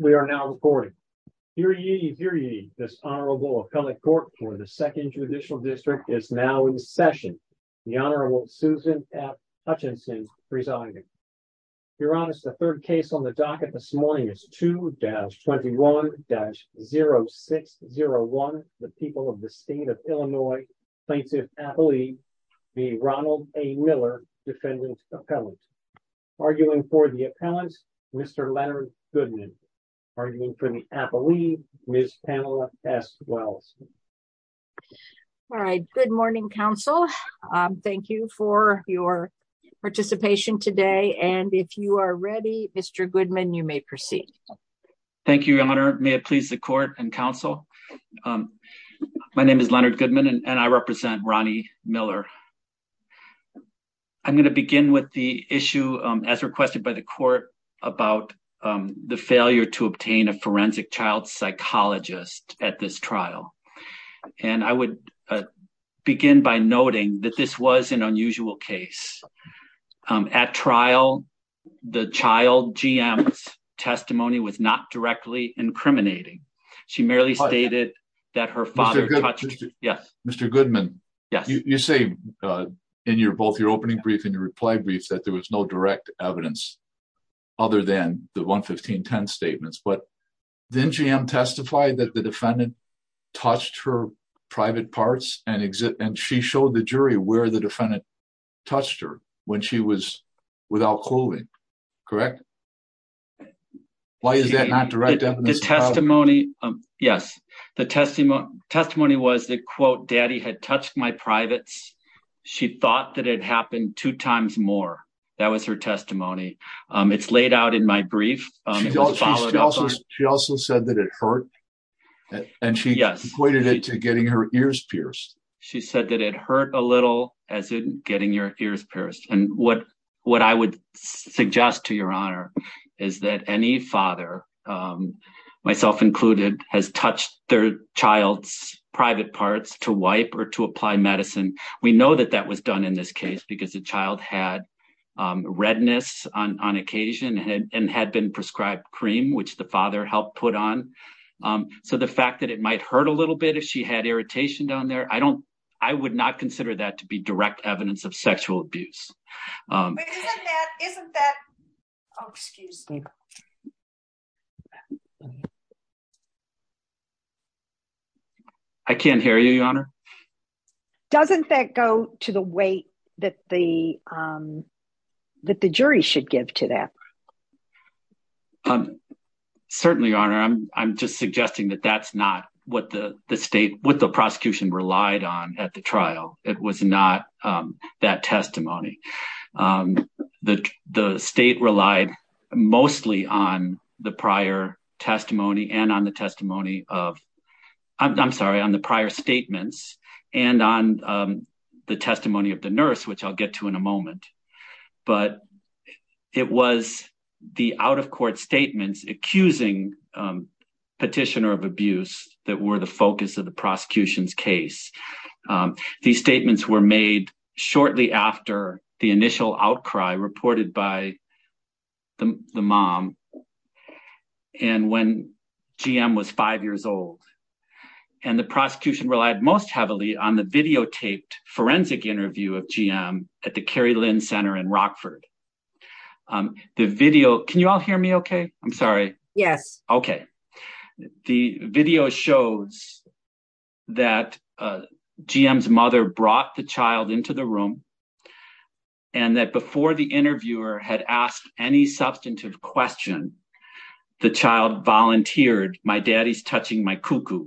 We are now recording. This honorable appellate court for the second judicial district is now in session. The Honorable Susan F. Hutchinson presiding. You're on us the third case on the docket this morning is to dash 21 dash 0601, the people of the state of Illinois plaintiff athlete, the Ronald a Miller defendant appellate arguing for the appellant, Mr. Leonard Goodman arguing for the Apple we miss Pamela as well. All right, good morning Council. Thank you for your participation today and if you are ready, Mr Goodman you may proceed. Thank you, Your Honor, may it please the court and counsel. My name is Leonard Goodman and I represent Ronnie Miller. I'm going to begin with the issue, as requested by the court about the failure to obtain a forensic child psychologist at this trial. And I would begin by noting that this was an unusual case at trial. The child GM testimony was not directly incriminating. She merely stated that her father. Yes, Mr Goodman. Yes, you say in your both your opening brief and your reply brief that there was no direct evidence. Other than the 115 10 statements but then GM testified that the defendant touched her private parts and exit and she showed the jury where the defendant touched her when she was without clothing. Correct. Why is that not direct testimony? Yes, the testimony testimony was the quote. Daddy had touched my privates. She thought that it happened two times more. That was her testimony. It's laid out in my brief. She also said that it hurt and she pointed it to getting her ears pierced. She said that it hurt a little as in getting your ears pierced. And what what I would suggest to your honor is that any father, myself included, has touched their child's private parts to wipe or to apply medicine. We know that that was done in this case because the child had redness on occasion and had been prescribed cream, which the father helped put on. So the fact that it might hurt a little bit if she had irritation down there, I don't, I would not consider that to be direct evidence of sexual abuse. I can't hear you, your honor. Doesn't that go to the weight that the that the jury should give to that. Certainly, your honor, I'm just suggesting that that's not what the state, what the prosecution relied on at the trial. It was not that testimony that the state relied mostly on the prior testimony and on the testimony of I'm sorry, on the prior statements and on the testimony of the nurse, which I'll get to in a moment. But it was the out-of-court statements accusing petitioner of abuse that were the focus of the prosecution's case. These statements were made shortly after the initial outcry reported by the mom. And when GM was five years old and the prosecution relied most heavily on the videotaped forensic interview of GM at the Carrie Lynn Center in Rockford. The video. Can you all hear me? Okay. I'm sorry. Yes. Okay. The video shows that GM's mother brought the child into the room. And that before the interviewer had asked any substantive question, the child volunteered. My daddy's touching my cuckoo,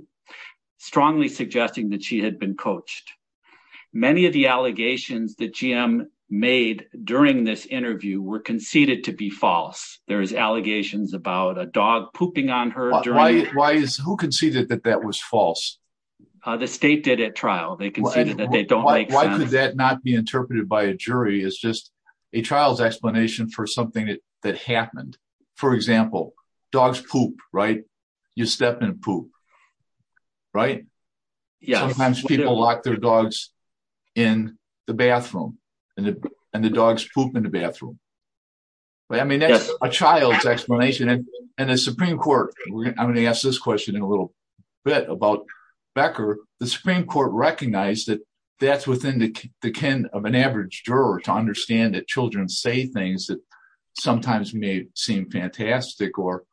strongly suggesting that she had been coached. Many of the allegations that GM made during this interview were conceded to be false. There is allegations about a dog pooping on her. Why is who conceded that that was false? The state did at trial. They conceded that they don't make sense. Why could that not be interpreted by a jury as just a trial's explanation for something that happened? For example, dogs poop, right? You step in poop, right? Yes. Sometimes people lock their dogs in the bathroom and the dogs poop in the bathroom. I mean, that's a child's explanation. And the Supreme Court, I'm going to ask this question in a little bit about Becker. The Supreme Court recognized that that's within the kin of an average juror to understand that children say things that sometimes may seem fantastic or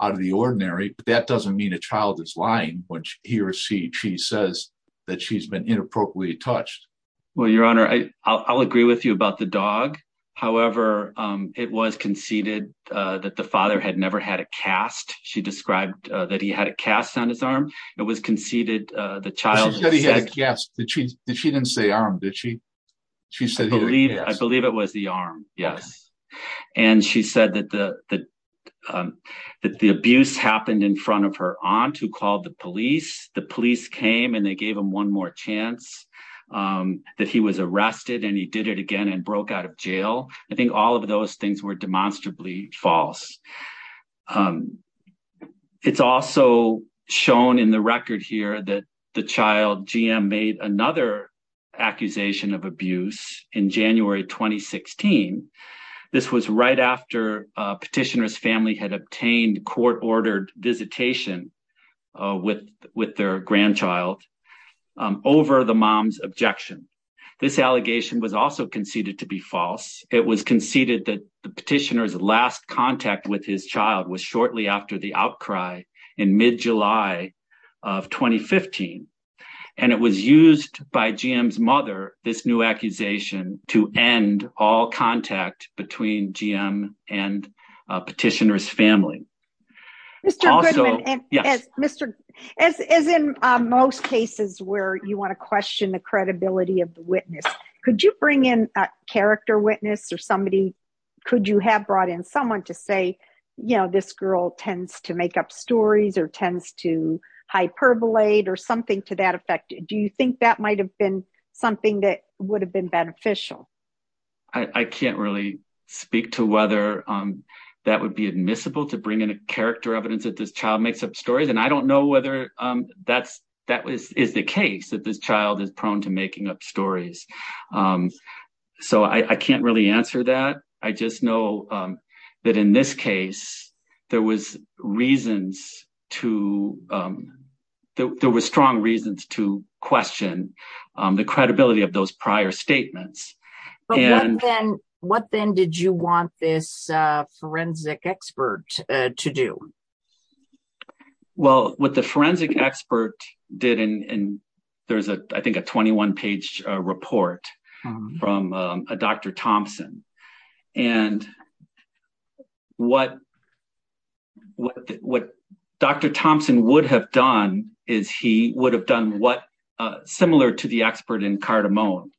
out of the ordinary. That doesn't mean a child is lying when he or she says that she's been inappropriately touched. Well, Your Honor, I'll agree with you about the dog. However, it was conceded that the father had never had a cast. She described that he had a cast on his arm. It was conceded the child. She said he had a cast. She didn't say arm. I believe it was the arm. Yes. And she said that the abuse happened in front of her aunt who called the police. The police came and they gave him one more chance. That he was arrested and he did it again and broke out of jail. I think all of those things were demonstrably false. It's also shown in the record here that the child GM made another accusation of abuse in January 2016. This was right after petitioner's family had obtained court-ordered visitation with their grandchild over the mom's objection. This allegation was also conceded to be false. It was conceded that the petitioner's last contact with his child was shortly after the outcry in mid-July of 2015. It was used by GM's mother, this new accusation, to end all contact between GM and petitioner's family. As in most cases where you want to question the credibility of the witness, could you bring in a character witness? Could you have brought in someone to say this girl tends to make up stories or tends to hyperbolate or something to that effect? Do you think that might have been something that would have been beneficial? I can't really speak to whether that would be admissible to bring in a character evidence that this child makes up stories. I don't know whether that is the case, that this child is prone to making up stories. I can't really answer that. I just know that in this case, there were strong reasons to question the credibility of those prior statements. What then did you want this forensic expert to do? Well, what the forensic expert did, and there's I think a 21-page report from Dr. Thompson. And what Dr. Thompson would have done is he would have done what, similar to the expert in Cardamone,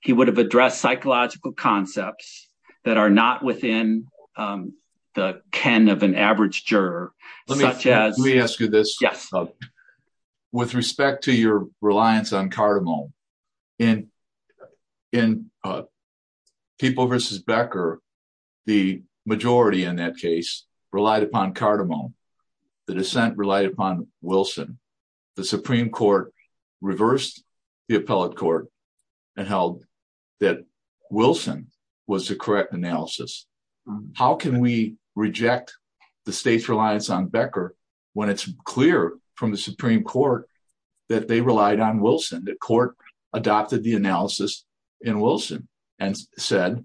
he would have addressed psychological concepts that are not within the ken of an average juror. Let me ask you this. Yes. With respect to your reliance on Cardamone, in People v. Becker, the majority in that case relied upon Cardamone. The dissent relied upon Wilson. The Supreme Court reversed the appellate court and held that Wilson was the correct analysis. How can we reject the state's reliance on Becker when it's clear from the Supreme Court that they relied on Wilson? The court adopted the analysis in Wilson and said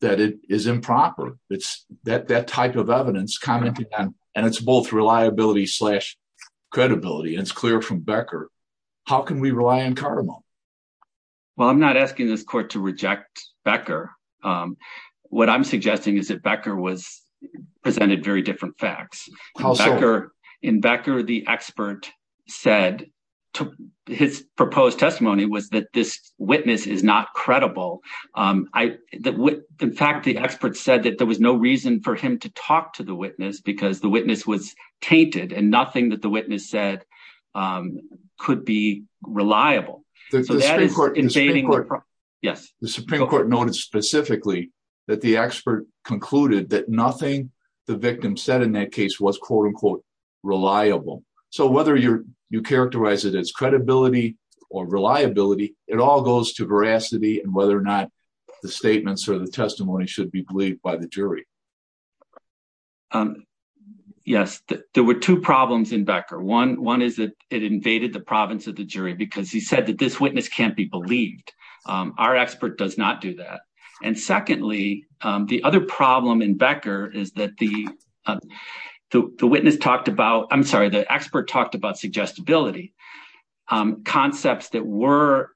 that it is improper. It's that type of evidence, and it's both reliability and credibility, and it's clear from Becker. How can we rely on Cardamone? Well, I'm not asking this court to reject Becker. What I'm suggesting is that Becker presented very different facts. In Becker, the expert said, his proposed testimony was that this witness is not credible. In fact, the expert said that there was no reason for him to talk to the witness because the witness was tainted and nothing that the witness said could be reliable. Yes. The Supreme Court noted specifically that the expert concluded that nothing the victim said in that case was quote-unquote reliable. So whether you characterize it as credibility or reliability, it all goes to veracity and whether or not the statements or the testimony should be believed by the jury. Yes. There were two problems in Becker. One is that it invaded the province of the jury because he said that this witness can't be believed. Our expert does not do that. And secondly, the other problem in Becker is that the expert talked about suggestibility, concepts that were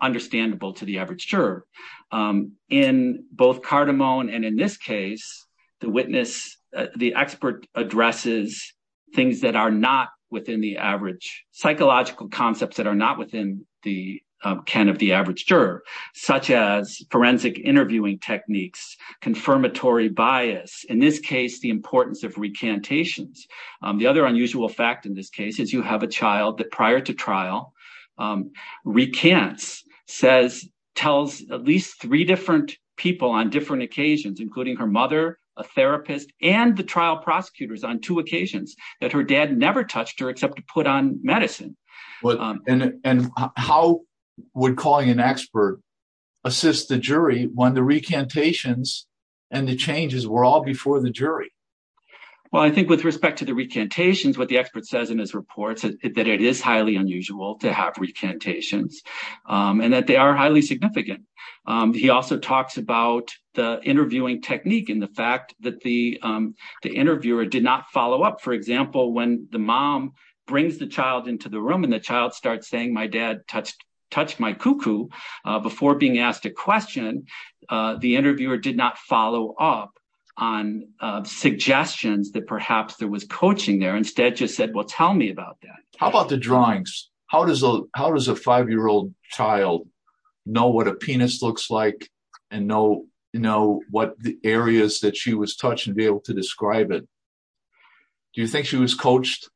understandable to the average juror. In both Cardamone and in this case, the expert addresses psychological concepts that are not within the ken of the average juror. Such as forensic interviewing techniques, confirmatory bias. In this case, the importance of recantations. The other unusual fact in this case is you have a child that prior to trial recants, tells at least three different people on different occasions, including her mother, a therapist, and the trial prosecutors on two occasions that her dad never touched her except to put on medicine. And how would calling an expert assist the jury when the recantations and the changes were all before the jury? Well, I think with respect to the recantations, what the expert says in his reports, that it is highly unusual to have recantations and that they are highly significant. He also talks about the interviewing technique and the fact that the interviewer did not follow up. For example, when the mom brings the child into the room and the child starts saying, my dad touched my cuckoo before being asked a question, the interviewer did not follow up on suggestions that perhaps there was coaching there. Instead, just said, well, tell me about that. How about the drawings? How does a five-year-old child know what a penis looks like and know what the areas that she was touched and be able to describe it? Do you think she was coached?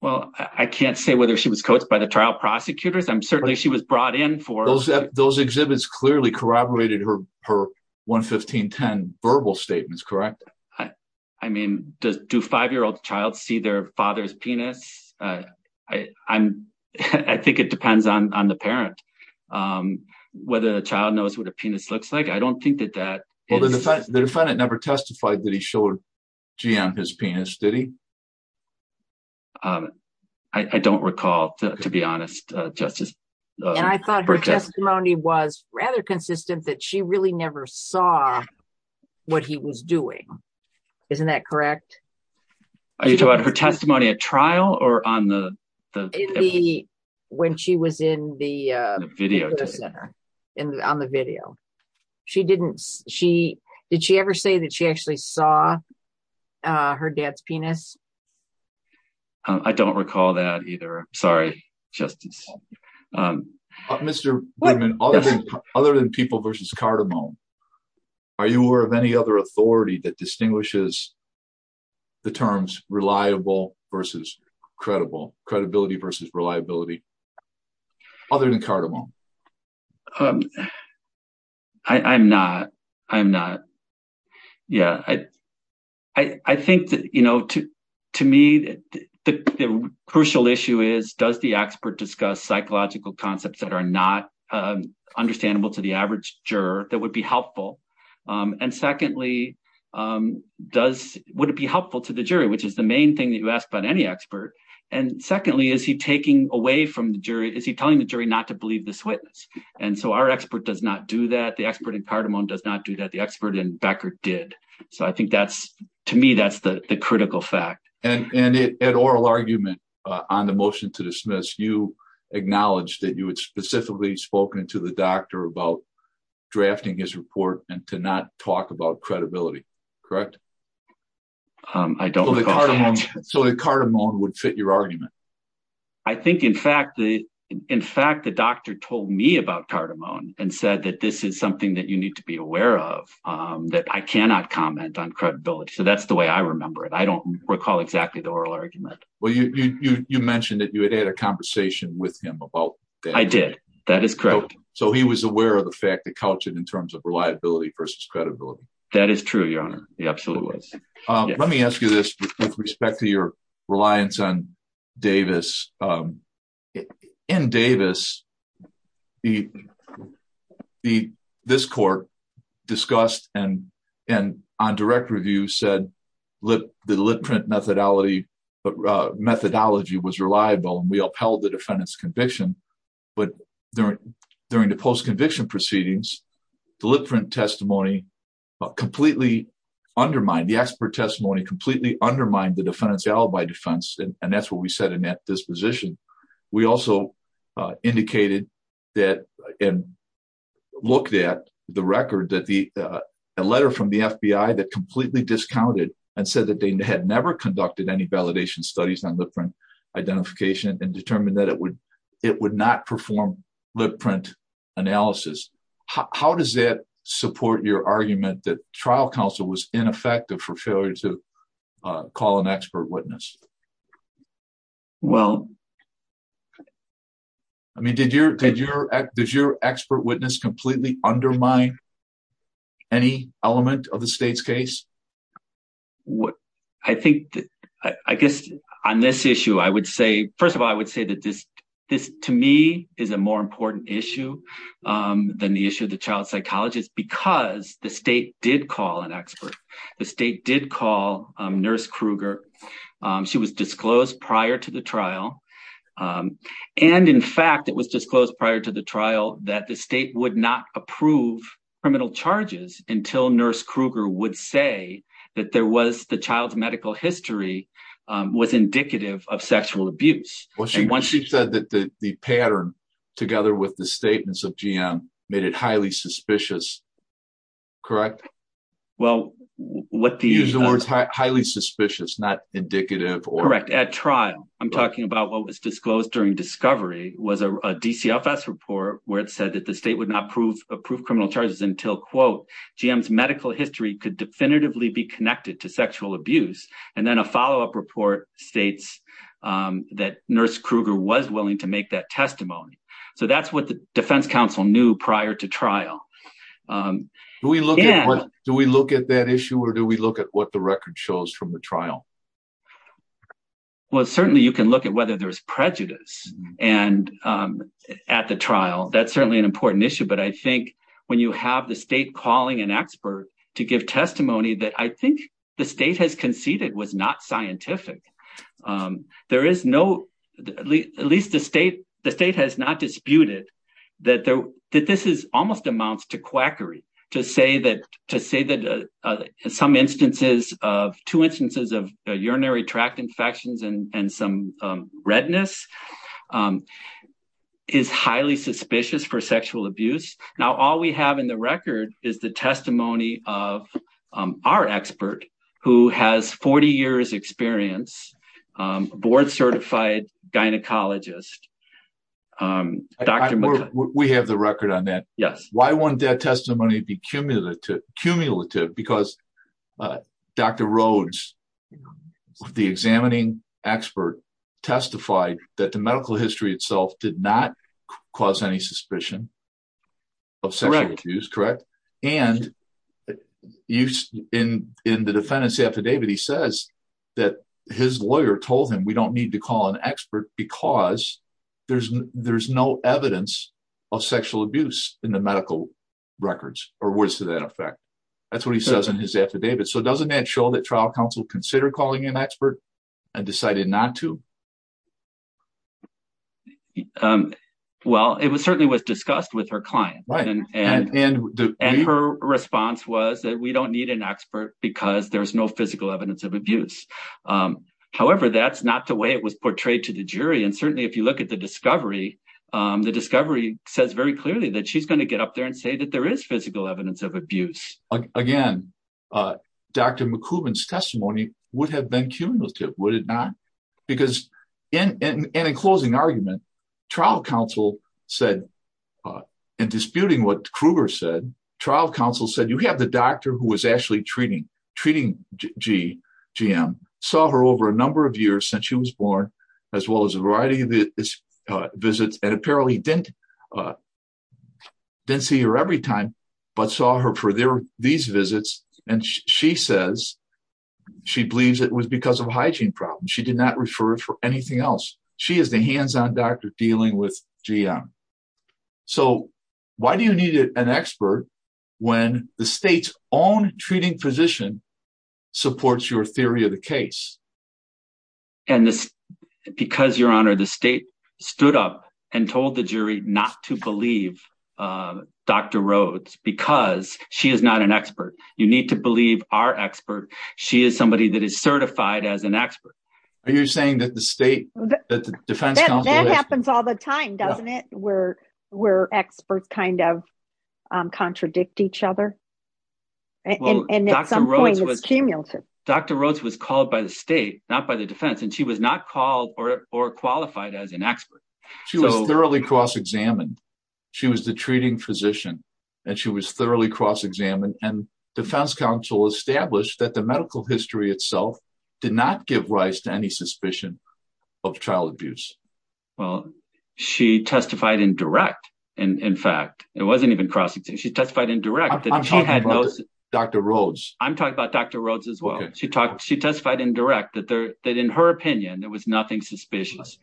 Well, I can't say whether she was coached by the trial prosecutors. Certainly, she was brought in for... Those exhibits clearly corroborated her 11510 verbal statements, correct? I mean, do five-year-old child see their father's penis? I think it depends on the parent, whether the child knows what a penis looks like. I don't think that that is... Well, the defendant never testified that he showed G on his penis, did he? I don't recall, to be honest, Justice. And I thought her testimony was rather consistent that she really never saw what he was doing. Isn't that correct? Are you talking about her testimony at trial or on the... When she was in the video center, on the video. She didn't... Did she ever say that she actually saw her dad's penis? I don't recall that either. Sorry, Justice. Mr. Berman, other than people versus cardamom, are you aware of any other authority that distinguishes the terms reliable versus credible, credibility versus reliability, other than cardamom? I'm not. I'm not. Yeah. I think that, you know, to me, the crucial issue is, does the expert discuss psychological concepts that are not understandable to the average juror that would be helpful? And secondly, would it be helpful to the jury, which is the main thing that you ask about any expert? And secondly, is he taking away from the jury? Is he telling the jury not to believe this witness? And so our expert does not do that. The expert in cardamom does not do that. The expert in Becker did. So I think that's, to me, that's the critical fact. And at oral argument on the motion to dismiss, you acknowledged that you had specifically spoken to the doctor about drafting his report and to not talk about credibility. Correct? I don't recall that. I think, in fact, the doctor told me about cardamom and said that this is something that you need to be aware of, that I cannot comment on credibility. So that's the way I remember it. I don't recall exactly the oral argument. Well, you mentioned that you had had a conversation with him about that. I did. That is correct. So he was aware of the fact that cultured in terms of reliability versus credibility. That is true, Your Honor. Absolutely. Let me ask you this with respect to your reliance on Davis. In Davis, this court discussed and on direct review said the lip print methodology was reliable and we upheld the defendant's conviction. But during the post-conviction proceedings, the lip print testimony completely undermined, the expert testimony completely undermined the defendant's alibi defense. And that's what we said in that disposition. We also indicated that and looked at the record that the letter from the FBI that completely discounted and said that they had never conducted any validation studies on lip print identification and determined that it would not perform lip print analysis. How does that support your argument that trial counsel was ineffective for failure to call an expert witness? Well. I mean, did your expert witness completely undermine any element of the state's case? What I think I guess on this issue, I would say, first of all, I would say that this this to me is a more important issue than the issue of the child psychologist, because the state did call an expert. The state did call Nurse Kruger. She was disclosed prior to the trial. And in fact, it was disclosed prior to the trial that the state would not approve criminal charges until Nurse Kruger would say that there was the child's medical history was indicative of sexual abuse. Well, she said that the pattern together with the statements of GM made it highly suspicious. Correct. Well, what do you use the words highly suspicious, not indicative or correct at trial? I'm talking about what was disclosed during discovery was a DCFS report where it said that the state would not approve approved criminal charges until, quote, GM's medical history could definitively be connected to sexual abuse. And then a follow up report states that Nurse Kruger was willing to make that testimony. So that's what the defense counsel knew prior to trial. We look at what do we look at that issue or do we look at what the record shows from the trial? Well, certainly you can look at whether there is prejudice and at the trial. That's certainly an important issue. But I think when you have the state calling an expert to give testimony that I think the state has conceded was not scientific. There is no at least the state the state has not disputed that that this is almost amounts to quackery to say that to say that some instances of two instances of urinary tract infections and some redness is highly suspicious for sexual abuse. Now, all we have in the record is the testimony of our expert who has 40 years experience, board certified gynecologist. We have the record on that. Yes. Why won't that testimony be cumulative? Cumulative because Dr. Rhodes, the examining expert, testified that the medical history itself did not cause any suspicion of sexual abuse, correct? And in the defendant's affidavit, he says that his lawyer told him we don't need to call an expert because there's there's no evidence of sexual abuse in the medical records or words to that effect. That's what he says in his affidavit. So doesn't that show that trial counsel consider calling an expert and decided not to? Well, it was certainly was discussed with her client. And her response was that we don't need an expert because there's no physical evidence of abuse. However, that's not the way it was portrayed to the jury. And certainly, if you look at the discovery, the discovery says very clearly that she's going to get up there and say that there is physical evidence of abuse. Again, Dr. McCubbin's testimony would have been cumulative, would it not? Because in a closing argument, trial counsel said in disputing what Kruger said, trial counsel said, you have the doctor who was actually treating treating GGM, saw her over a number of years since she was born, as well as a variety of visits. And apparently didn't see her every time, but saw her for these visits. And she says she believes it was because of hygiene problems. She did not refer for anything else. She is the hands on doctor dealing with GM. So why do you need an expert when the state's own treating physician supports your theory of the case? And because your honor, the state stood up and told the jury not to believe Dr. Rhodes because she is not an expert. You need to believe our expert. She is somebody that is certified as an expert. Are you saying that the state that the defense happens all the time, doesn't it? Where we're experts kind of contradict each other. And Dr. Rhodes was called by the state, not by the defense, and she was not called or qualified as an expert. She was thoroughly cross examined. She was the treating physician and she was thoroughly cross examined. And defense counsel established that the medical history itself did not give rise to any suspicion of child abuse. Well, she testified in direct. And in fact, it wasn't even cross. She testified in direct that she had Dr. Rhodes. I'm talking about Dr. Rhodes as well. She talked. She testified in direct that that in her opinion, there was nothing suspicious.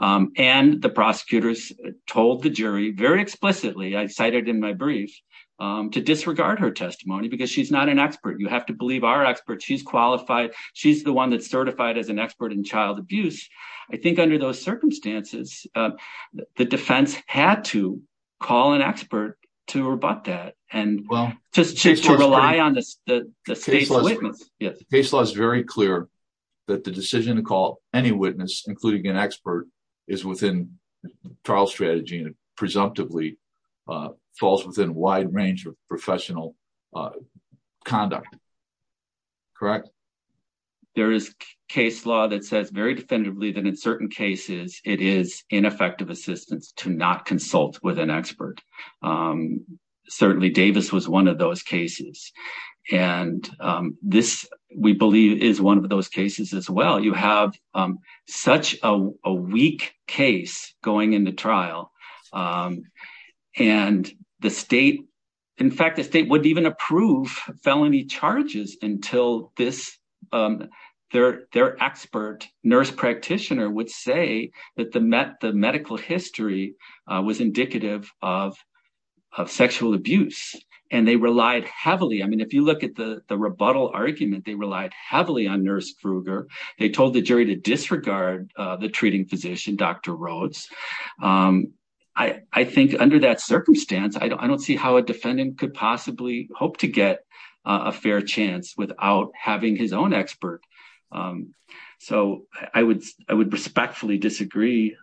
And the prosecutors told the jury very explicitly. I cited in my brief to disregard her testimony because she's not an expert. You have to believe our experts. She's qualified. She's the one that's certified as an expert in child abuse. I think under those circumstances, the defense had to call an expert to rebut that and just rely on the state's witness. Case law is very clear that the decision to call any witness, including an expert, is within trial strategy and presumptively falls within wide range of professional conduct. Correct? There is case law that says very definitively that in certain cases it is ineffective assistance to not consult with an expert. Certainly, Davis was one of those cases. And this, we believe, is one of those cases as well. You have such a weak case going into trial. And the state, in fact, the state wouldn't even approve felony charges until this, their expert nurse practitioner would say that the medical history was indicative of sexual abuse. And they relied heavily. I mean, if you look at the rebuttal argument, they relied heavily on Nurse Kruger. They told the jury to disregard the treating physician, Dr. Rhodes. I think under that circumstance, I don't see how a defendant could possibly hope to get a fair chance without having his own expert. So I would I would respectfully disagree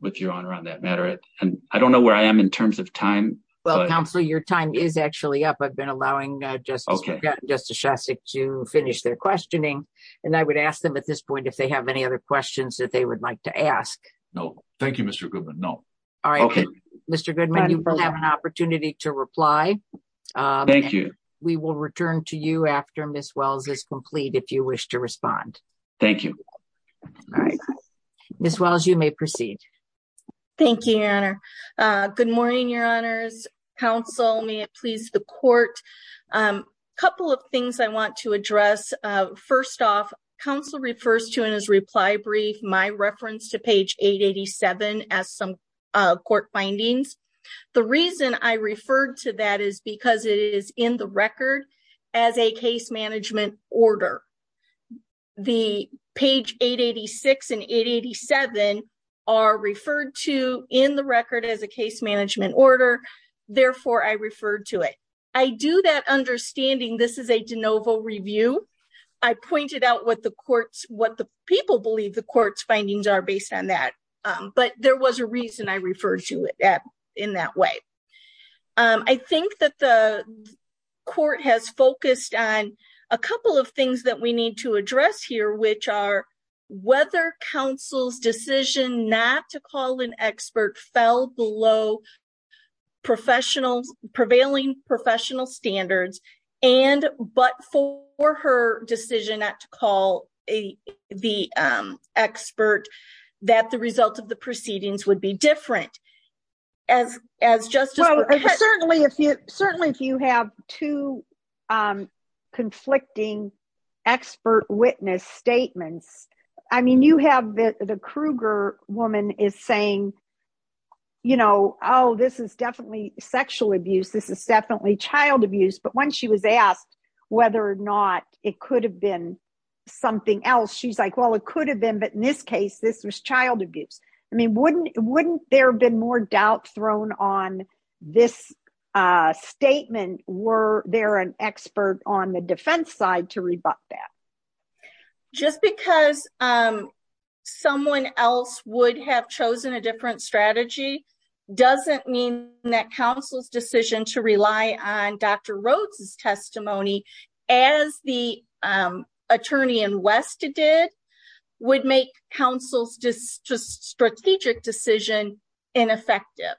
with your honor on that matter. And I don't know where I am in terms of time. Well, Counselor, your time is actually up. I've been allowing Justice Shostak to finish their questioning. And I would ask them at this point if they have any other questions that they would like to ask. No, thank you, Mr. Goodman. No. All right. Mr. Goodman, you have an opportunity to reply. Thank you. We will return to you after Miss Wells is complete. If you wish to respond. Thank you. All right. Miss Wells, you may proceed. Thank you, Your Honor. Good morning, Your Honors. Counsel, may it please the court. A couple of things I want to address. First off, Counsel refers to in his reply brief my reference to page 887 as some court findings. The reason I referred to that is because it is in the record as a case management order. The page 886 and 887 are referred to in the record as a case management order. Therefore, I referred to it. I do that understanding this is a de novo review. I pointed out what the people believe the court's findings are based on that. But there was a reason I referred to it in that way. I think that the court has focused on a couple of things that we need to address here, which are whether counsel's decision not to call an expert fell below prevailing professional standards, and but for her decision not to call the expert that the result of the proceedings would be different. Certainly, if you have two conflicting expert witness statements, I mean, you have the Kruger woman is saying, you know, oh, this is definitely sexual abuse. This is definitely child abuse. But when she was asked whether or not it could have been something else, she's like, well, it could have been. But in this case, this was child abuse. I mean, wouldn't wouldn't there have been more doubt thrown on this statement? Were there an expert on the defense side to rebut that? Just because someone else would have chosen a different strategy doesn't mean that counsel's decision to rely on Dr. did would make counsel's strategic decision ineffective.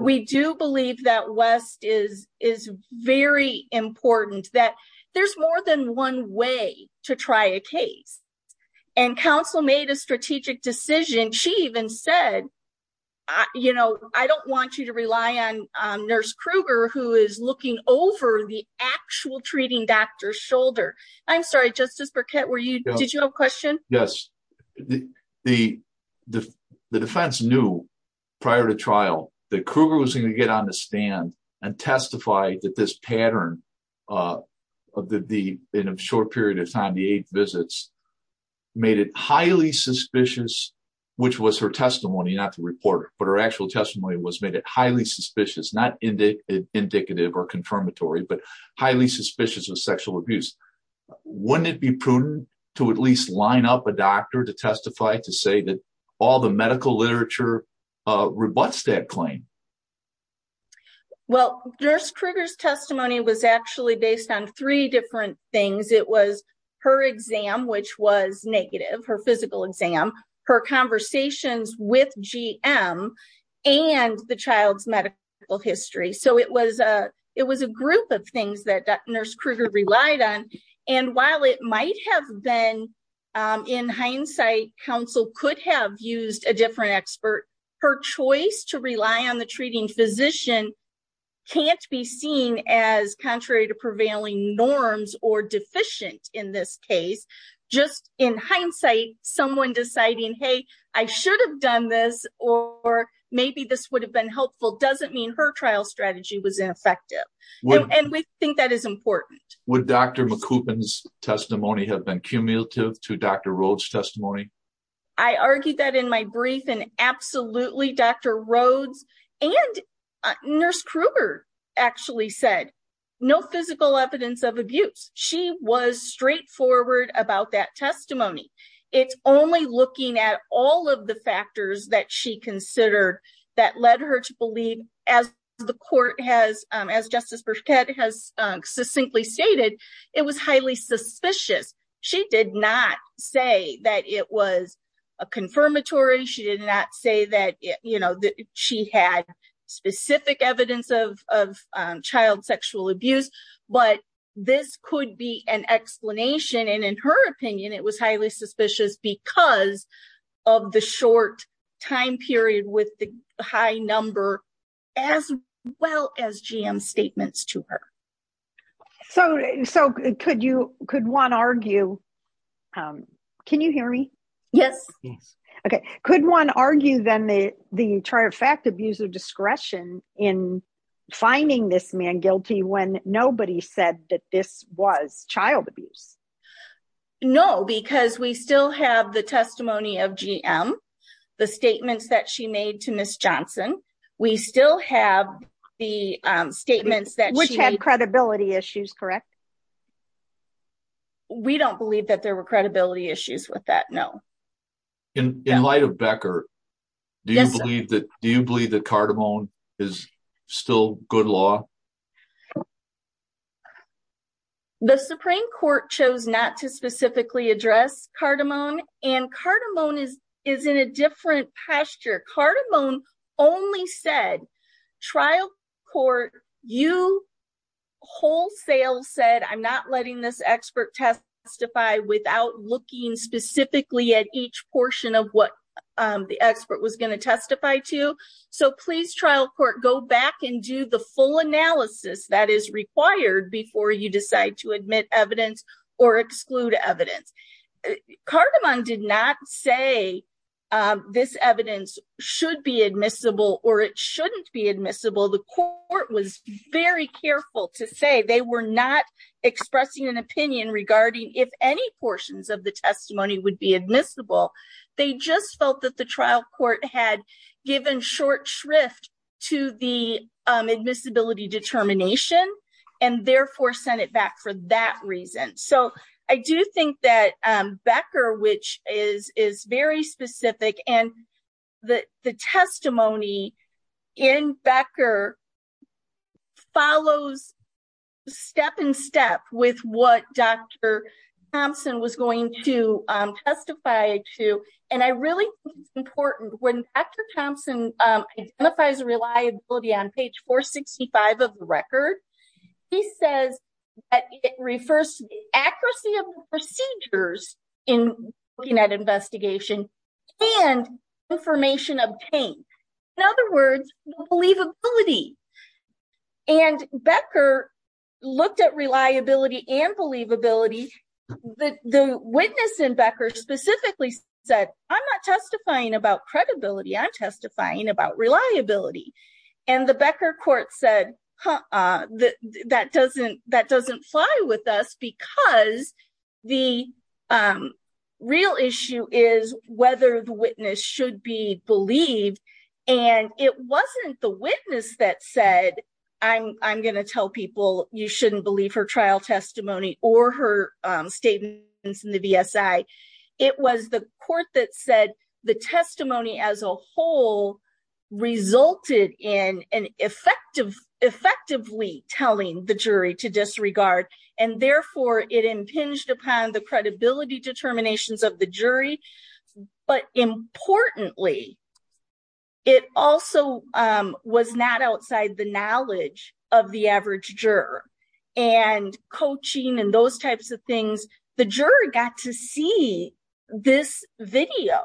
We do believe that West is is very important, that there's more than one way to try a case. And counsel made a strategic decision. She even said, you know, I don't want you to rely on Nurse Kruger, who is looking over the actual treating doctor's shoulder. I'm sorry, Justice Burkett, were you did you have a question? Yes. The defense knew prior to trial that Kruger was going to get on the stand and testify that this pattern of the in a short period of time, the eight visits made it highly suspicious, which was her testimony, not the reporter. But her actual testimony was made it highly suspicious, not indicative or confirmatory, but highly suspicious of sexual abuse. Wouldn't it be prudent to at least line up a doctor to testify to say that all the medical literature rebuts that claim? Well, Nurse Kruger's testimony was actually based on three different things. It was her exam, which was negative, her physical exam, her conversations with GM and the child's medical history. So it was a it was a group of things that Nurse Kruger relied on. And while it might have been in hindsight, counsel could have used a different expert. Her choice to rely on the treating physician can't be seen as contrary to prevailing norms or deficient in this case. Just in hindsight, someone deciding, hey, I should have done this or maybe this would have been helpful. Doesn't mean her trial strategy was ineffective. And we think that is important. Would Dr. McCubbin's testimony have been cumulative to Dr. Rhodes testimony? I argued that in my brief and absolutely. Dr. Rhodes and Nurse Kruger actually said no physical evidence of abuse. She was straightforward about that testimony. It's only looking at all of the factors that she considered that led her to believe, as the court has, as Justice Burkett has succinctly stated, it was highly suspicious. She did not say that it was a confirmatory. She did not say that she had specific evidence of child sexual abuse. But this could be an explanation. And in her opinion, it was highly suspicious because of the short time period with the high number as well as GM statements to her. So could you could one argue. Can you hear me? Yes. Yes. OK. Could one argue then the the entire fact abuse of discretion in finding this man guilty when nobody said that this was child abuse? No, because we still have the testimony of GM, the statements that she made to Miss Johnson. We still have the statements that credibility issues. Correct. We don't believe that there were credibility issues with that. No. In light of Becker, do you believe that do you believe that cardamom is still good law? The Supreme Court chose not to specifically address cardamom and cardamom is is in a different pasture. Cardamom only said trial court. You wholesale said, I'm not letting this expert testify without looking specifically at each portion of what the expert was going to testify to. So please, trial court, go back and do the full analysis that is required before you decide to admit evidence or exclude evidence. Cardamom did not say this evidence should be admissible or it shouldn't be admissible. The court was very careful to say they were not expressing an opinion regarding if any portions of the testimony would be admissible. They just felt that the trial court had given short shrift to the admissibility determination and therefore sent it back for that reason. So I do think that Becker, which is is very specific. And the testimony in Becker follows step in step with what Dr. Thompson was going to testify to. And I really think it's important when Dr. Thompson identifies reliability on page 465 of the record. He says it refers to the accuracy of procedures in looking at investigation and information obtained. In other words, believability. And Becker looked at reliability and believability. The witness in Becker specifically said, I'm not testifying about credibility, I'm testifying about reliability. And the Becker court said that doesn't fly with us because the real issue is whether the witness should be believed. And it wasn't the witness that said, I'm going to tell people you shouldn't believe her trial testimony or her statements in the BSI. It was the court that said the testimony as a whole resulted in effectively telling the jury to disregard. And therefore, it impinged upon the credibility determinations of the jury. But importantly, it also was not outside the knowledge of the average juror. And coaching and those types of things. The jury got to see this video.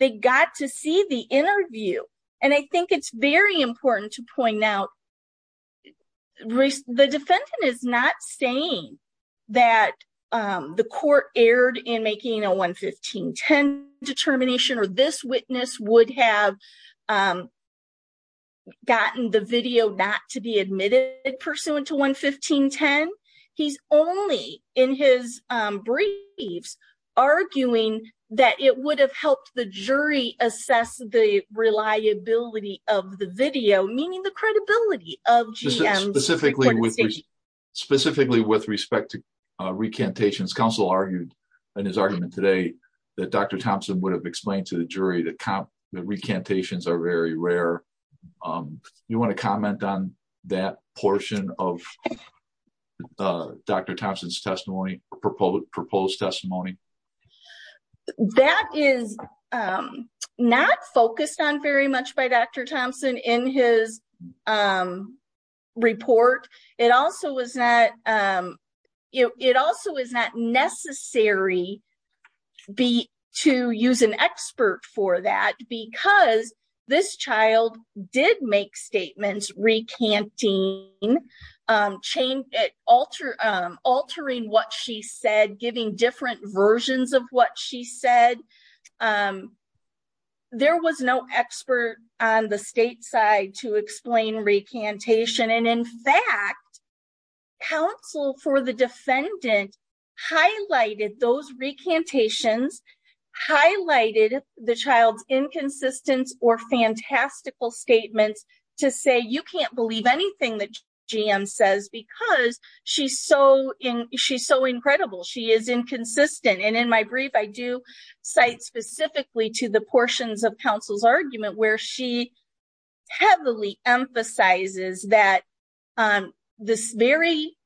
They got to see the interview. And I think it's very important to point out, the defendant is not saying that the court erred in making a 11510 determination. Or this witness would have gotten the video not to be admitted pursuant to 11510. He's only in his briefs arguing that it would have helped the jury assess the reliability of the video. Specifically with respect to recantations. Counsel argued in his argument today that Dr. Thompson would have explained to the jury that recantations are very rare. You want to comment on that portion of Dr. Thompson's testimony, proposed testimony? That is not focused on very much by Dr. Thompson in his report. It also was not necessary to use an expert for that. Because this child did make statements recanting, altering what she said, giving different versions of what she said. There was no expert on the state side to explain recantation. In fact, counsel for the defendant highlighted those recantations. Highlighted the child's inconsistence or fantastical statements to say you can't believe anything that GM says. Because she's so incredible. She is inconsistent. And in my brief I do cite specifically to the portions of counsel's argument where she heavily emphasizes that this very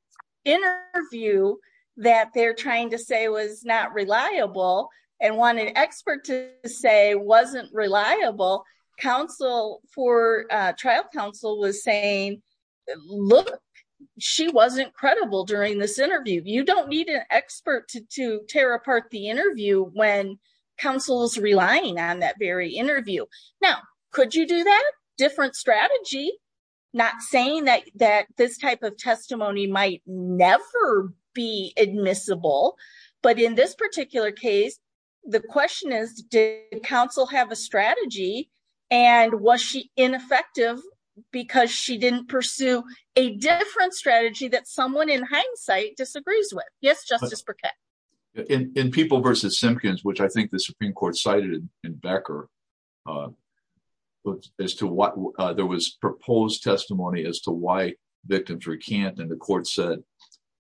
interview that they're trying to say was not reliable. And wanted an expert to say wasn't reliable. Counsel for trial counsel was saying, look, she wasn't credible during this interview. You don't need an expert to tear apart the interview when counsel is relying on that very interview. Now, could you do that? Different strategy. Not saying that this type of testimony might never be admissible. But in this particular case, the question is, did counsel have a strategy? And was she ineffective because she didn't pursue a different strategy that someone in hindsight disagrees with? Yes, Justice Burkett. In People v. Simpkins, which I think the Supreme Court cited in Becker, there was proposed testimony as to why victims recant. And the court said,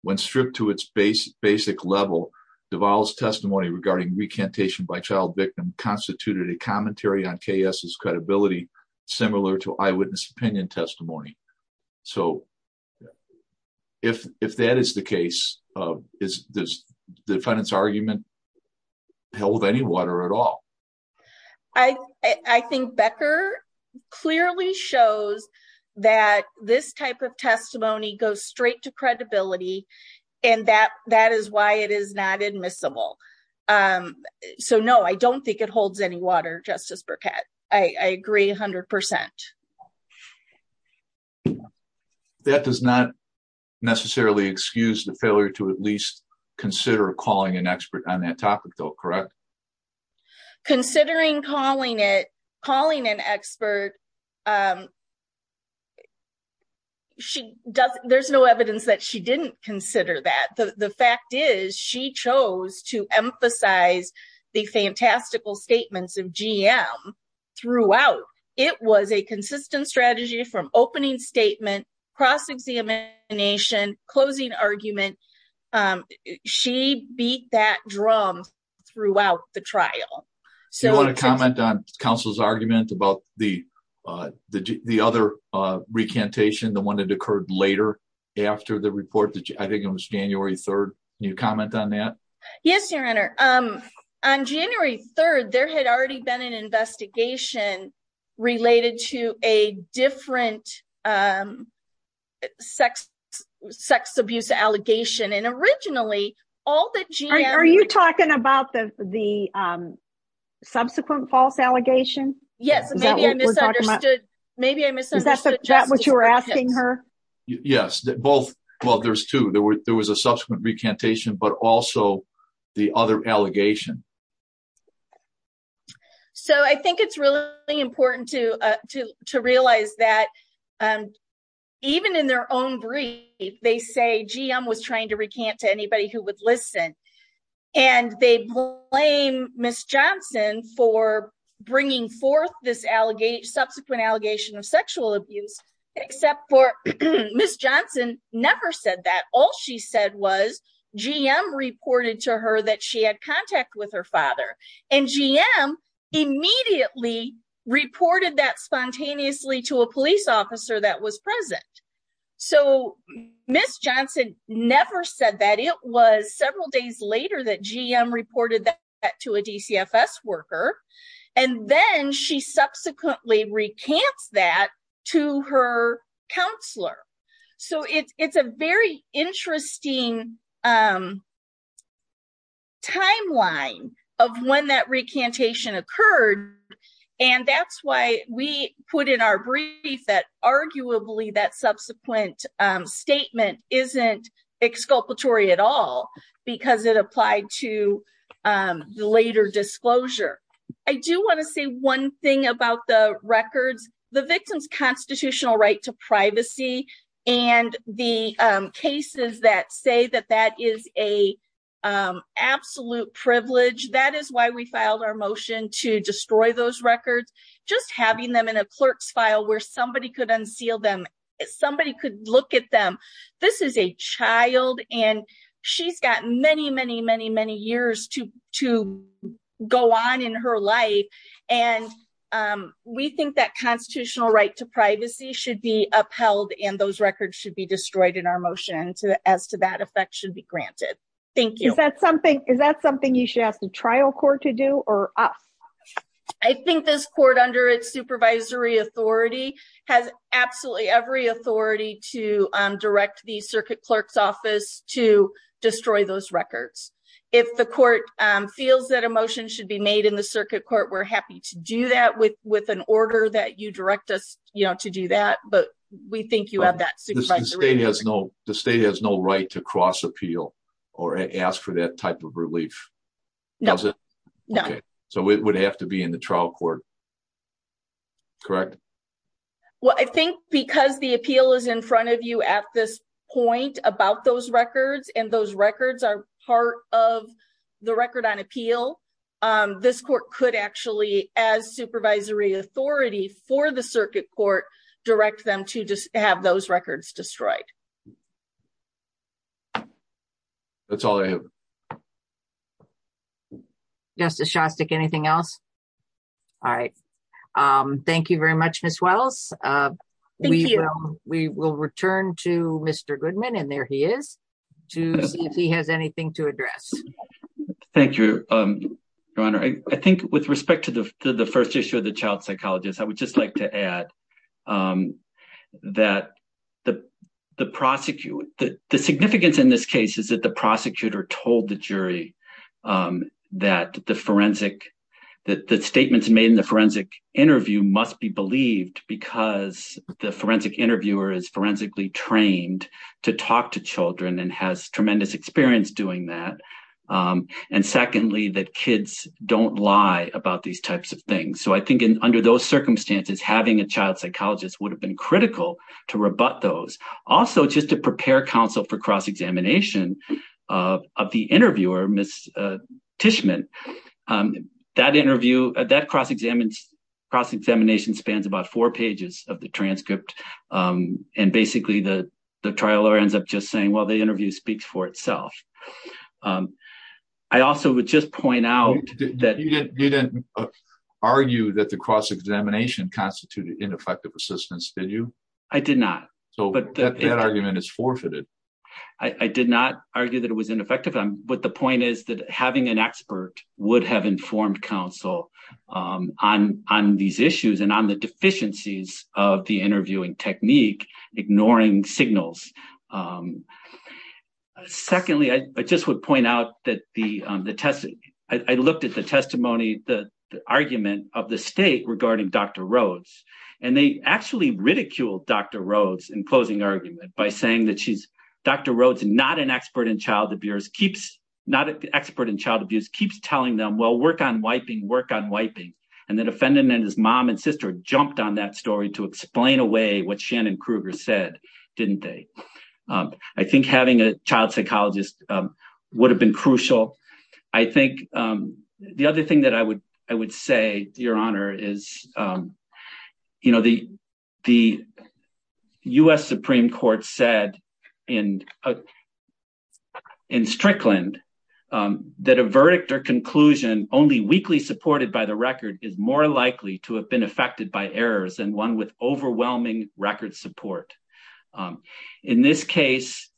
when stripped to its basic level, Duval's testimony regarding recantation by child victim constituted a commentary on KS's credibility similar to eyewitness opinion testimony. So, if that is the case, does the defendant's argument hold any water at all? I think Becker clearly shows that this type of testimony goes straight to credibility. And that is why it is not admissible. So, no, I don't think it holds any water, Justice Burkett. I agree 100%. That does not necessarily excuse the failure to at least consider calling an expert on that topic, though, correct? Considering calling an expert, there's no evidence that she didn't consider that. The fact is, she chose to emphasize the fantastical statements of GM throughout. It was a consistent strategy from opening statement, cross-examination, closing argument. She beat that drum throughout the trial. Do you want to comment on counsel's argument about the other recantation, the one that occurred later after the report? I think it was January 3rd. Can you comment on that? Yes, Your Honor. On January 3rd, there had already been an investigation related to a different sex abuse allegation. Are you talking about the subsequent false allegation? Yes. Maybe I misunderstood Justice Burkett. Is that what you were asking her? Yes. Well, there's two. There was a subsequent recantation, but also the other allegation. I think it's really important to realize that even in their own brief, they say GM was trying to recant to anybody who would listen. They blame Ms. Johnson for bringing forth this subsequent allegation of sexual abuse, except for Ms. Johnson never said that. All she said was GM reported to her that she had contact with her father, and GM immediately reported that spontaneously to a police officer that was present. Ms. Johnson never said that. It was several days later that GM reported that to a DCFS worker, and then she subsequently recants that to her counselor. It's a very interesting timeline of when that recantation occurred, and that's why we put in our brief that arguably that subsequent statement isn't exculpatory at all because it applied to later disclosure. I do want to say one thing about the records. The victim's constitutional right to privacy and the cases that say that that is an absolute privilege, that is why we filed our motion to destroy those records. Just having them in a clerk's file where somebody could unseal them, somebody could look at them, this is a child and she's got many, many, many, many years to go on in her life. We think that constitutional right to privacy should be upheld and those records should be destroyed in our motion as to that effect should be granted. Thank you. Is that something you should ask the trial court to do or us? I think this court under its supervisory authority has absolutely every authority to direct the circuit clerk's office to destroy those records. If the court feels that a motion should be made in the circuit court, we're happy to do that with an order that you direct us to do that, but we think you have that. The state has no right to cross appeal or ask for that type of relief. No. So it would have to be in the trial court. Correct. Well, I think because the appeal is in front of you at this point about those records and those records are part of the record on appeal. This court could actually as supervisory authority for the circuit court, direct them to just have those records destroyed. That's all I have. Justice Shostak, anything else? All right. Thank you very much, Miss Wells. We will return to Mr. Goodman and there he is, to see if he has anything to address. Thank you, Your Honor. I think with respect to the first issue of the child psychologist, I would just like to add that the significance in this case is that the prosecutor told the jury that the statements made in the forensic interview must be believed because the forensic interviewer is forensically trained to talk to children and has tremendous experience doing that. And secondly, that kids don't lie about these types of things. So I think under those circumstances, having a child psychologist would have been critical to rebut those. Also, just to prepare counsel for cross-examination of the interviewer, Miss Tishman, that interview, that cross-examination spans about four pages of the transcript. And basically, the trial lawyer ends up just saying, well, the interview speaks for itself. I also would just point out that- You didn't argue that the cross-examination constituted ineffective assistance, did you? I did not. So that argument is forfeited. I did not argue that it was ineffective. But the point is that having an expert would have informed counsel on these issues and on the deficiencies of the interviewing technique, ignoring signals. Secondly, I just would point out that I looked at the testimony, the argument of the state regarding Dr. Rhodes. And they actually ridiculed Dr. Rhodes in closing argument by saying that she's- Dr. Rhodes, not an expert in child abuse, keeps telling them, well, work on wiping, work on wiping. And the defendant and his mom and sister jumped on that story to explain away what Shannon Kruger said, didn't they? I think having a child psychologist would have been crucial. I think the other thing that I would say, Your Honor, is the U.S. Supreme Court said in Strickland that a verdict or conclusion only weakly supported by the record is more likely to have been affected by errors than one with overwhelming record support. In this case,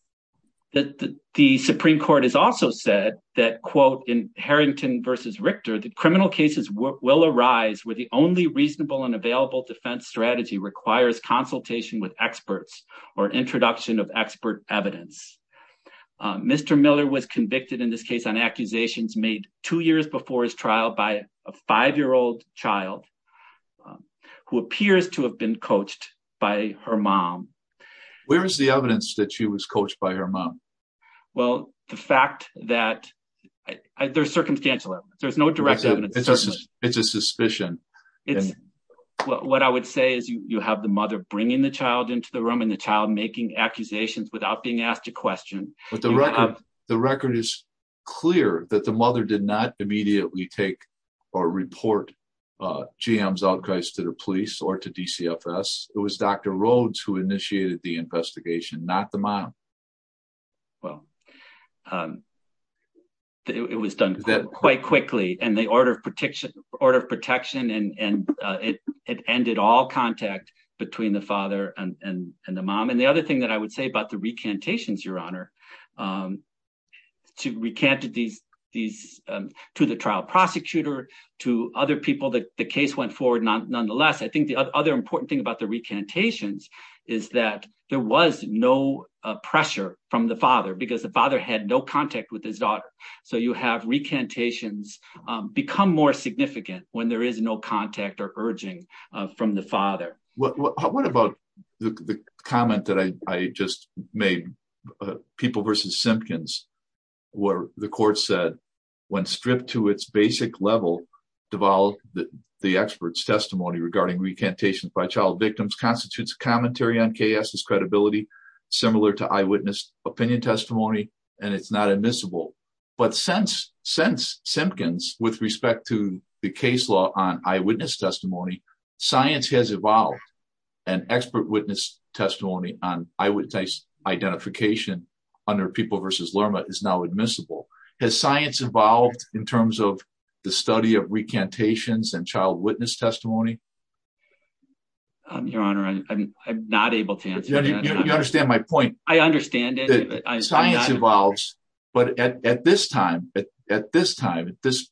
the Supreme Court has also said that, quote, in Harrington v. Richter, that criminal cases will arise where the only reasonable and available defense strategy requires consultation with experts or introduction of expert evidence. Mr. Miller was convicted in this case on accusations made two years before his trial by a five-year-old child who appears to have been coached by her mom. Where is the evidence that she was coached by her mom? Well, the fact that- there's circumstantial evidence. There's no direct evidence. It's a suspicion. What I would say is you have the mother bringing the child into the room and the child making accusations without being asked a question. The record is clear that the mother did not immediately take or report GM's outcries to the police or to DCFS. It was Dr. Rhodes who initiated the investigation, not the mom. Well, it was done quite quickly and the order of protection and it ended all contact between the father and the mom. And the other thing that I would say about the recantations, Your Honor, to the trial prosecutor, to other people, the case went forward nonetheless. I think the other important thing about the recantations is that there was no pressure from the father because the father had no contact with his daughter. So you have recantations become more significant when there is no contact or urging from the father. What about the comment that I just made, People v. Simpkins, where the court said, When stripped to its basic level, Duval, the expert's testimony regarding recantations by child victims constitutes a commentary on chaos, discredibility, similar to eyewitness opinion testimony, and it's not admissible. But since Simpkins, with respect to the case law on eyewitness testimony, science has evolved and expert witness testimony on eyewitness identification under People v. Lerma is now admissible. Has science evolved in terms of the study of recantations and child witness testimony? Your Honor, I'm not able to answer that. You understand my point. I understand it. Science evolves, but at this time, at this time, at this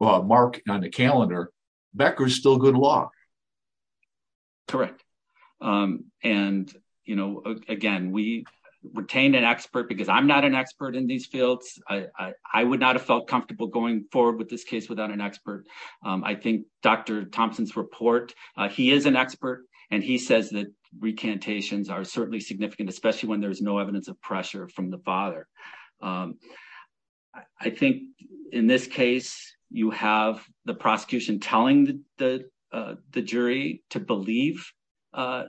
mark on the calendar, Becker is still good law. Correct. And, you know, again, we retained an expert because I'm not an expert in these fields. I would not have felt comfortable going forward with this case without an expert. I think Dr. Thompson's report, he is an expert, and he says that recantations are certainly significant, especially when there's no evidence of pressure from the father. I think, in this case, you have the prosecution telling the jury to believe a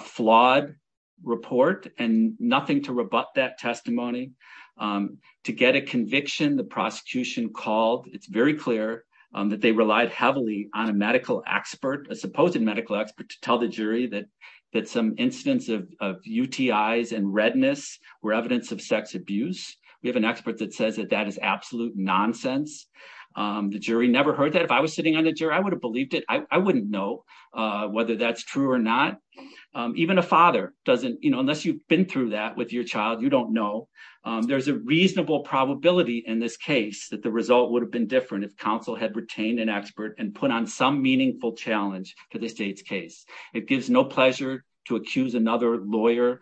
flawed report and nothing to rebut that testimony. To get a conviction, the prosecution called. It's very clear that they relied heavily on a medical expert, a supposed medical expert, to tell the jury that some incidents of UTIs and redness were evidence of sex abuse. We have an expert that says that that is absolute nonsense. The jury never heard that. If I was sitting on the jury, I would have believed it. I wouldn't know whether that's true or not. Even a father doesn't, you know, unless you've been through that with your child, you don't know. There's a reasonable probability in this case that the result would have been different if counsel had retained an expert and put on some meaningful challenge to the state's case. It gives no pleasure to accuse another lawyer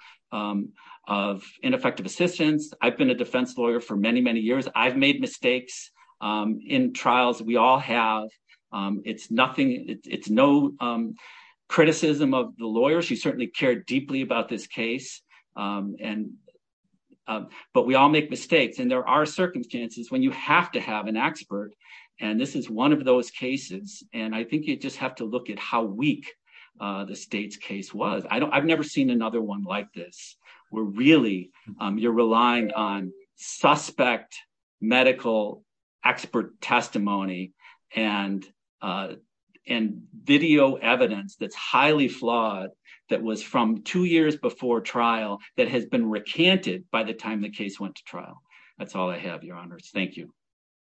of ineffective assistance. I've been a defense lawyer for many, many years. I've made mistakes in trials. We all have. It's nothing, it's no criticism of the lawyer. She certainly cared deeply about this case. But we all make mistakes, and there are circumstances when you have to have an expert, and this is one of those cases. And I think you just have to look at how weak the state's case was. I've never seen another one like this. You're relying on suspect medical expert testimony and video evidence that's highly flawed that was from two years before trial that has been recanted by the time the case went to trial. That's all I have, Your Honors. Thank you.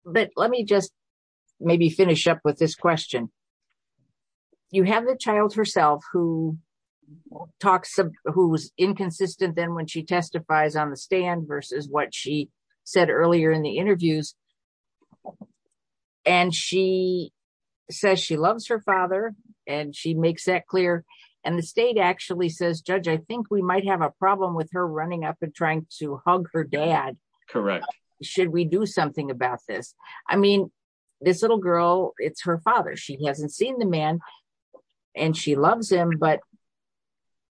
But let me just maybe finish up with this question. You have the child herself who was inconsistent then when she testifies on the stand versus what she said earlier in the interviews, and she says she loves her father, and she makes that clear. And the state actually says, Judge, I think we might have a problem with her running up and trying to hug her dad. Correct. Should we do something about this? I mean, this little girl, it's her father. She hasn't seen the man, and she loves him, but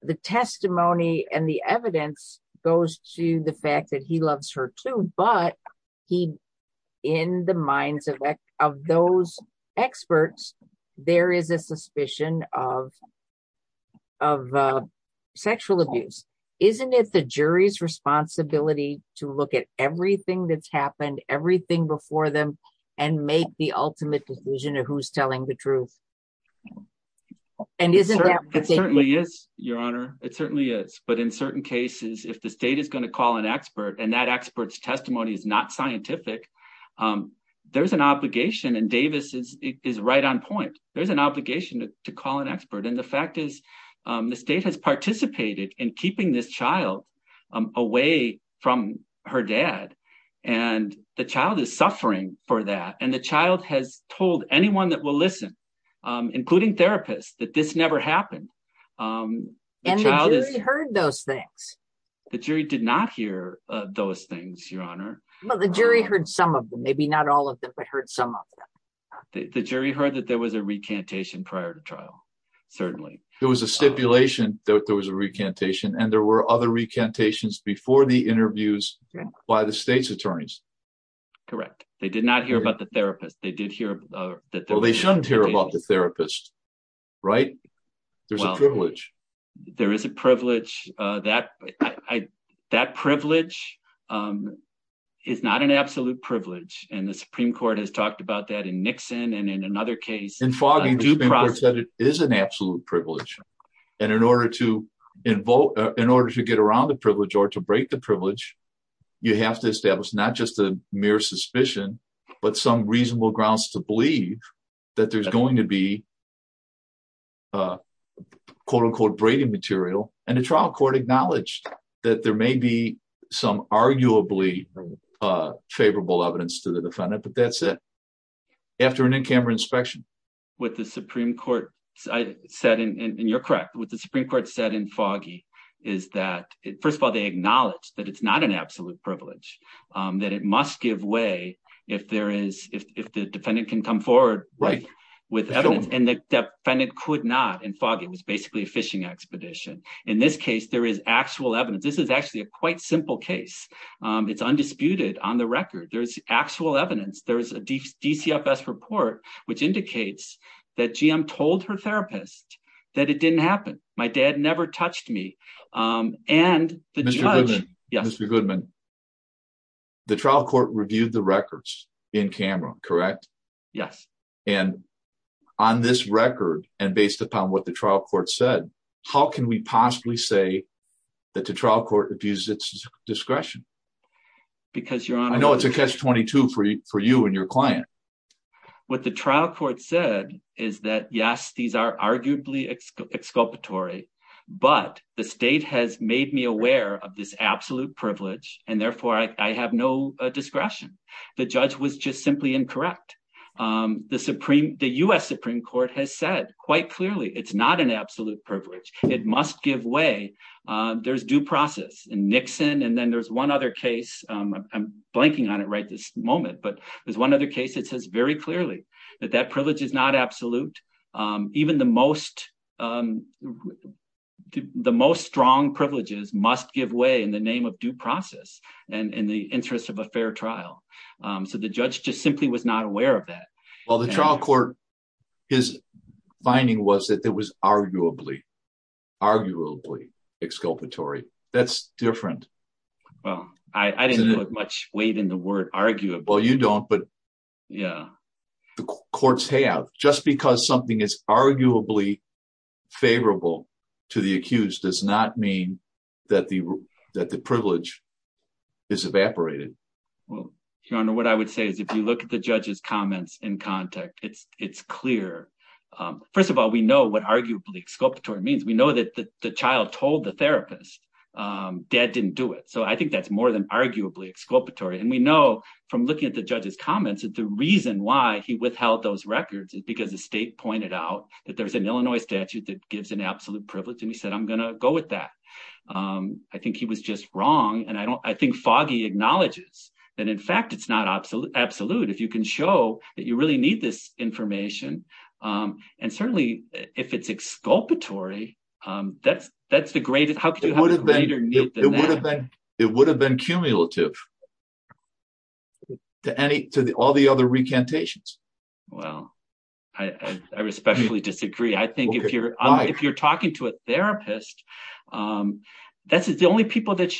the testimony and the evidence goes to the fact that he loves her too, but in the minds of those experts, there is a suspicion of sexual abuse. Isn't it the jury's responsibility to look at everything that's happened, everything before them, and make the ultimate decision of who's telling the truth? It certainly is, Your Honor. It certainly is. But in certain cases, if the state is going to call an expert and that expert's testimony is not scientific, there's an obligation, and Davis is right on point. There's an obligation to call an expert, and the fact is the state has participated in keeping this child away from her dad, and the child is suffering for that, and the child has told anyone that will listen, including therapists, that this never happened. And the jury heard those things. The jury did not hear those things, Your Honor. Well, the jury heard some of them, maybe not all of them, but heard some of them. The jury heard that there was a recantation prior to trial, certainly. There was a stipulation that there was a recantation, and there were other recantations before the interviews by the state's attorneys. Correct. They did not hear about the therapist. They did hear that there was a recantation. Well, they shouldn't hear about the therapist, right? There's a privilege. There is a privilege. That privilege is not an absolute privilege, and the Supreme Court has talked about that in Nixon and in another case. The Supreme Court said it is an absolute privilege, and in order to get around the privilege or to break the privilege, you have to establish not just a mere suspicion, but some reasonable grounds to believe that there's going to be, quote unquote, braiding material. And the trial court acknowledged that there may be some arguably favorable evidence to the defendant, but that's it. After an in-camera inspection? What the Supreme Court said, and you're correct, what the Supreme Court said in Foggy is that, first of all, they acknowledged that it's not an absolute privilege, that it must give way if the defendant can come forward with evidence, and the defendant could not in Foggy. It was basically a fishing expedition. In this case, there is actual evidence. This is actually a quite simple case. It's undisputed on the record. There's actual evidence. There's a DCFS report, which indicates that GM told her therapist that it didn't happen. My dad never touched me, and the judge... Mr. Goodman, the trial court reviewed the records in camera, correct? Yes. And on this record, and based upon what the trial court said, how can we possibly say that the trial court abused its discretion? Because your Honor... I know it's a catch-22 for you and your client. What the trial court said is that, yes, these are arguably exculpatory, but the state has made me aware of this absolute privilege, and therefore I have no discretion. The judge was just simply incorrect. The U.S. Supreme Court has said quite clearly it's not an absolute privilege. It must give way. There's due process, and Nixon, and then there's one other case. I'm blanking on it right this moment, but there's one other case that says very clearly that that privilege is not absolute. Even the most strong privileges must give way in the name of due process and in the interest of a fair trial. So the judge just simply was not aware of that. Well, the trial court, his finding was that it was arguably, arguably exculpatory. That's different. Well, I didn't put much weight in the word arguably. Well, you don't, but the courts have. Just because something is arguably favorable to the accused does not mean that the privilege is evaporated. Well, Your Honor, what I would say is if you look at the judge's comments in context, it's clear. First of all, we know what arguably exculpatory means. We know that the child told the therapist, Dad didn't do it. So I think that's more than arguably exculpatory. And we know from looking at the judge's comments that the reason why he withheld those records is because the state pointed out that there's an Illinois statute that gives an absolute privilege. And he said, I'm going to go with that. I think he was just wrong. And I don't I think Foggy acknowledges that, in fact, it's not absolute. Absolute. If you can show that you really need this information and certainly if it's exculpatory, that's that's the greatest. How could you have a greater need than that? It would have been cumulative. To all the other recantations. Well, I respectfully disagree. I think if you're if you're talking to a therapist, that's the only people that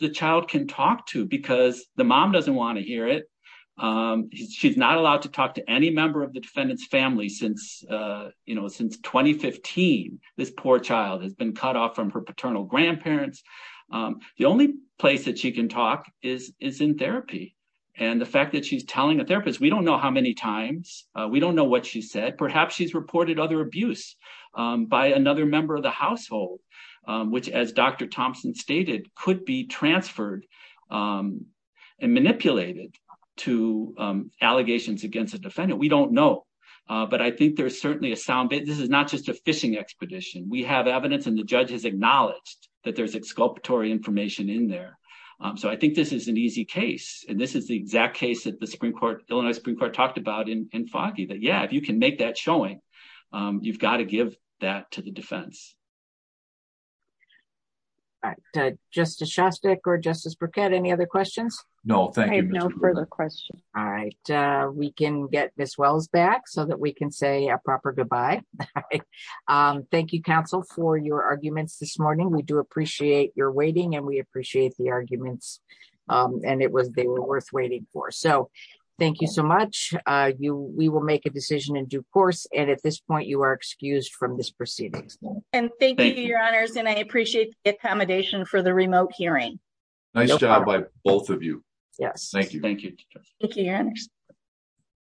the child can talk to because the mom doesn't want to hear it. She's not allowed to talk to any member of the defendant's family since, you know, since 2015. This poor child has been cut off from her paternal grandparents. The only place that she can talk is is in therapy. And the fact that she's telling a therapist, we don't know how many times. We don't know what she said. Perhaps she's reported other abuse by another member of the household, which, as Dr. Thompson stated, could be transferred and manipulated to allegations against a defendant. We don't know. But I think there's certainly a sound bit. This is not just a fishing expedition. We have evidence and the judge has acknowledged that there's exculpatory information in there. So I think this is an easy case. And this is the exact case that the Supreme Court, Illinois Supreme Court, talked about in Foggy. Yeah, if you can make that showing, you've got to give that to the defense. Justice Shostak or Justice Burkett, any other questions? No, thank you. No further questions. All right. We can get this Wells back so that we can say a proper goodbye. Thank you, counsel, for your arguments this morning. We do appreciate your waiting and we appreciate the arguments. And it was they were worth waiting for. So thank you so much. You we will make a decision in due course. And at this point, you are excused from this proceedings. And thank you, Your Honors. And I appreciate the accommodation for the remote hearing. Nice job by both of you. Yes. Thank you. Thank you. Thank you.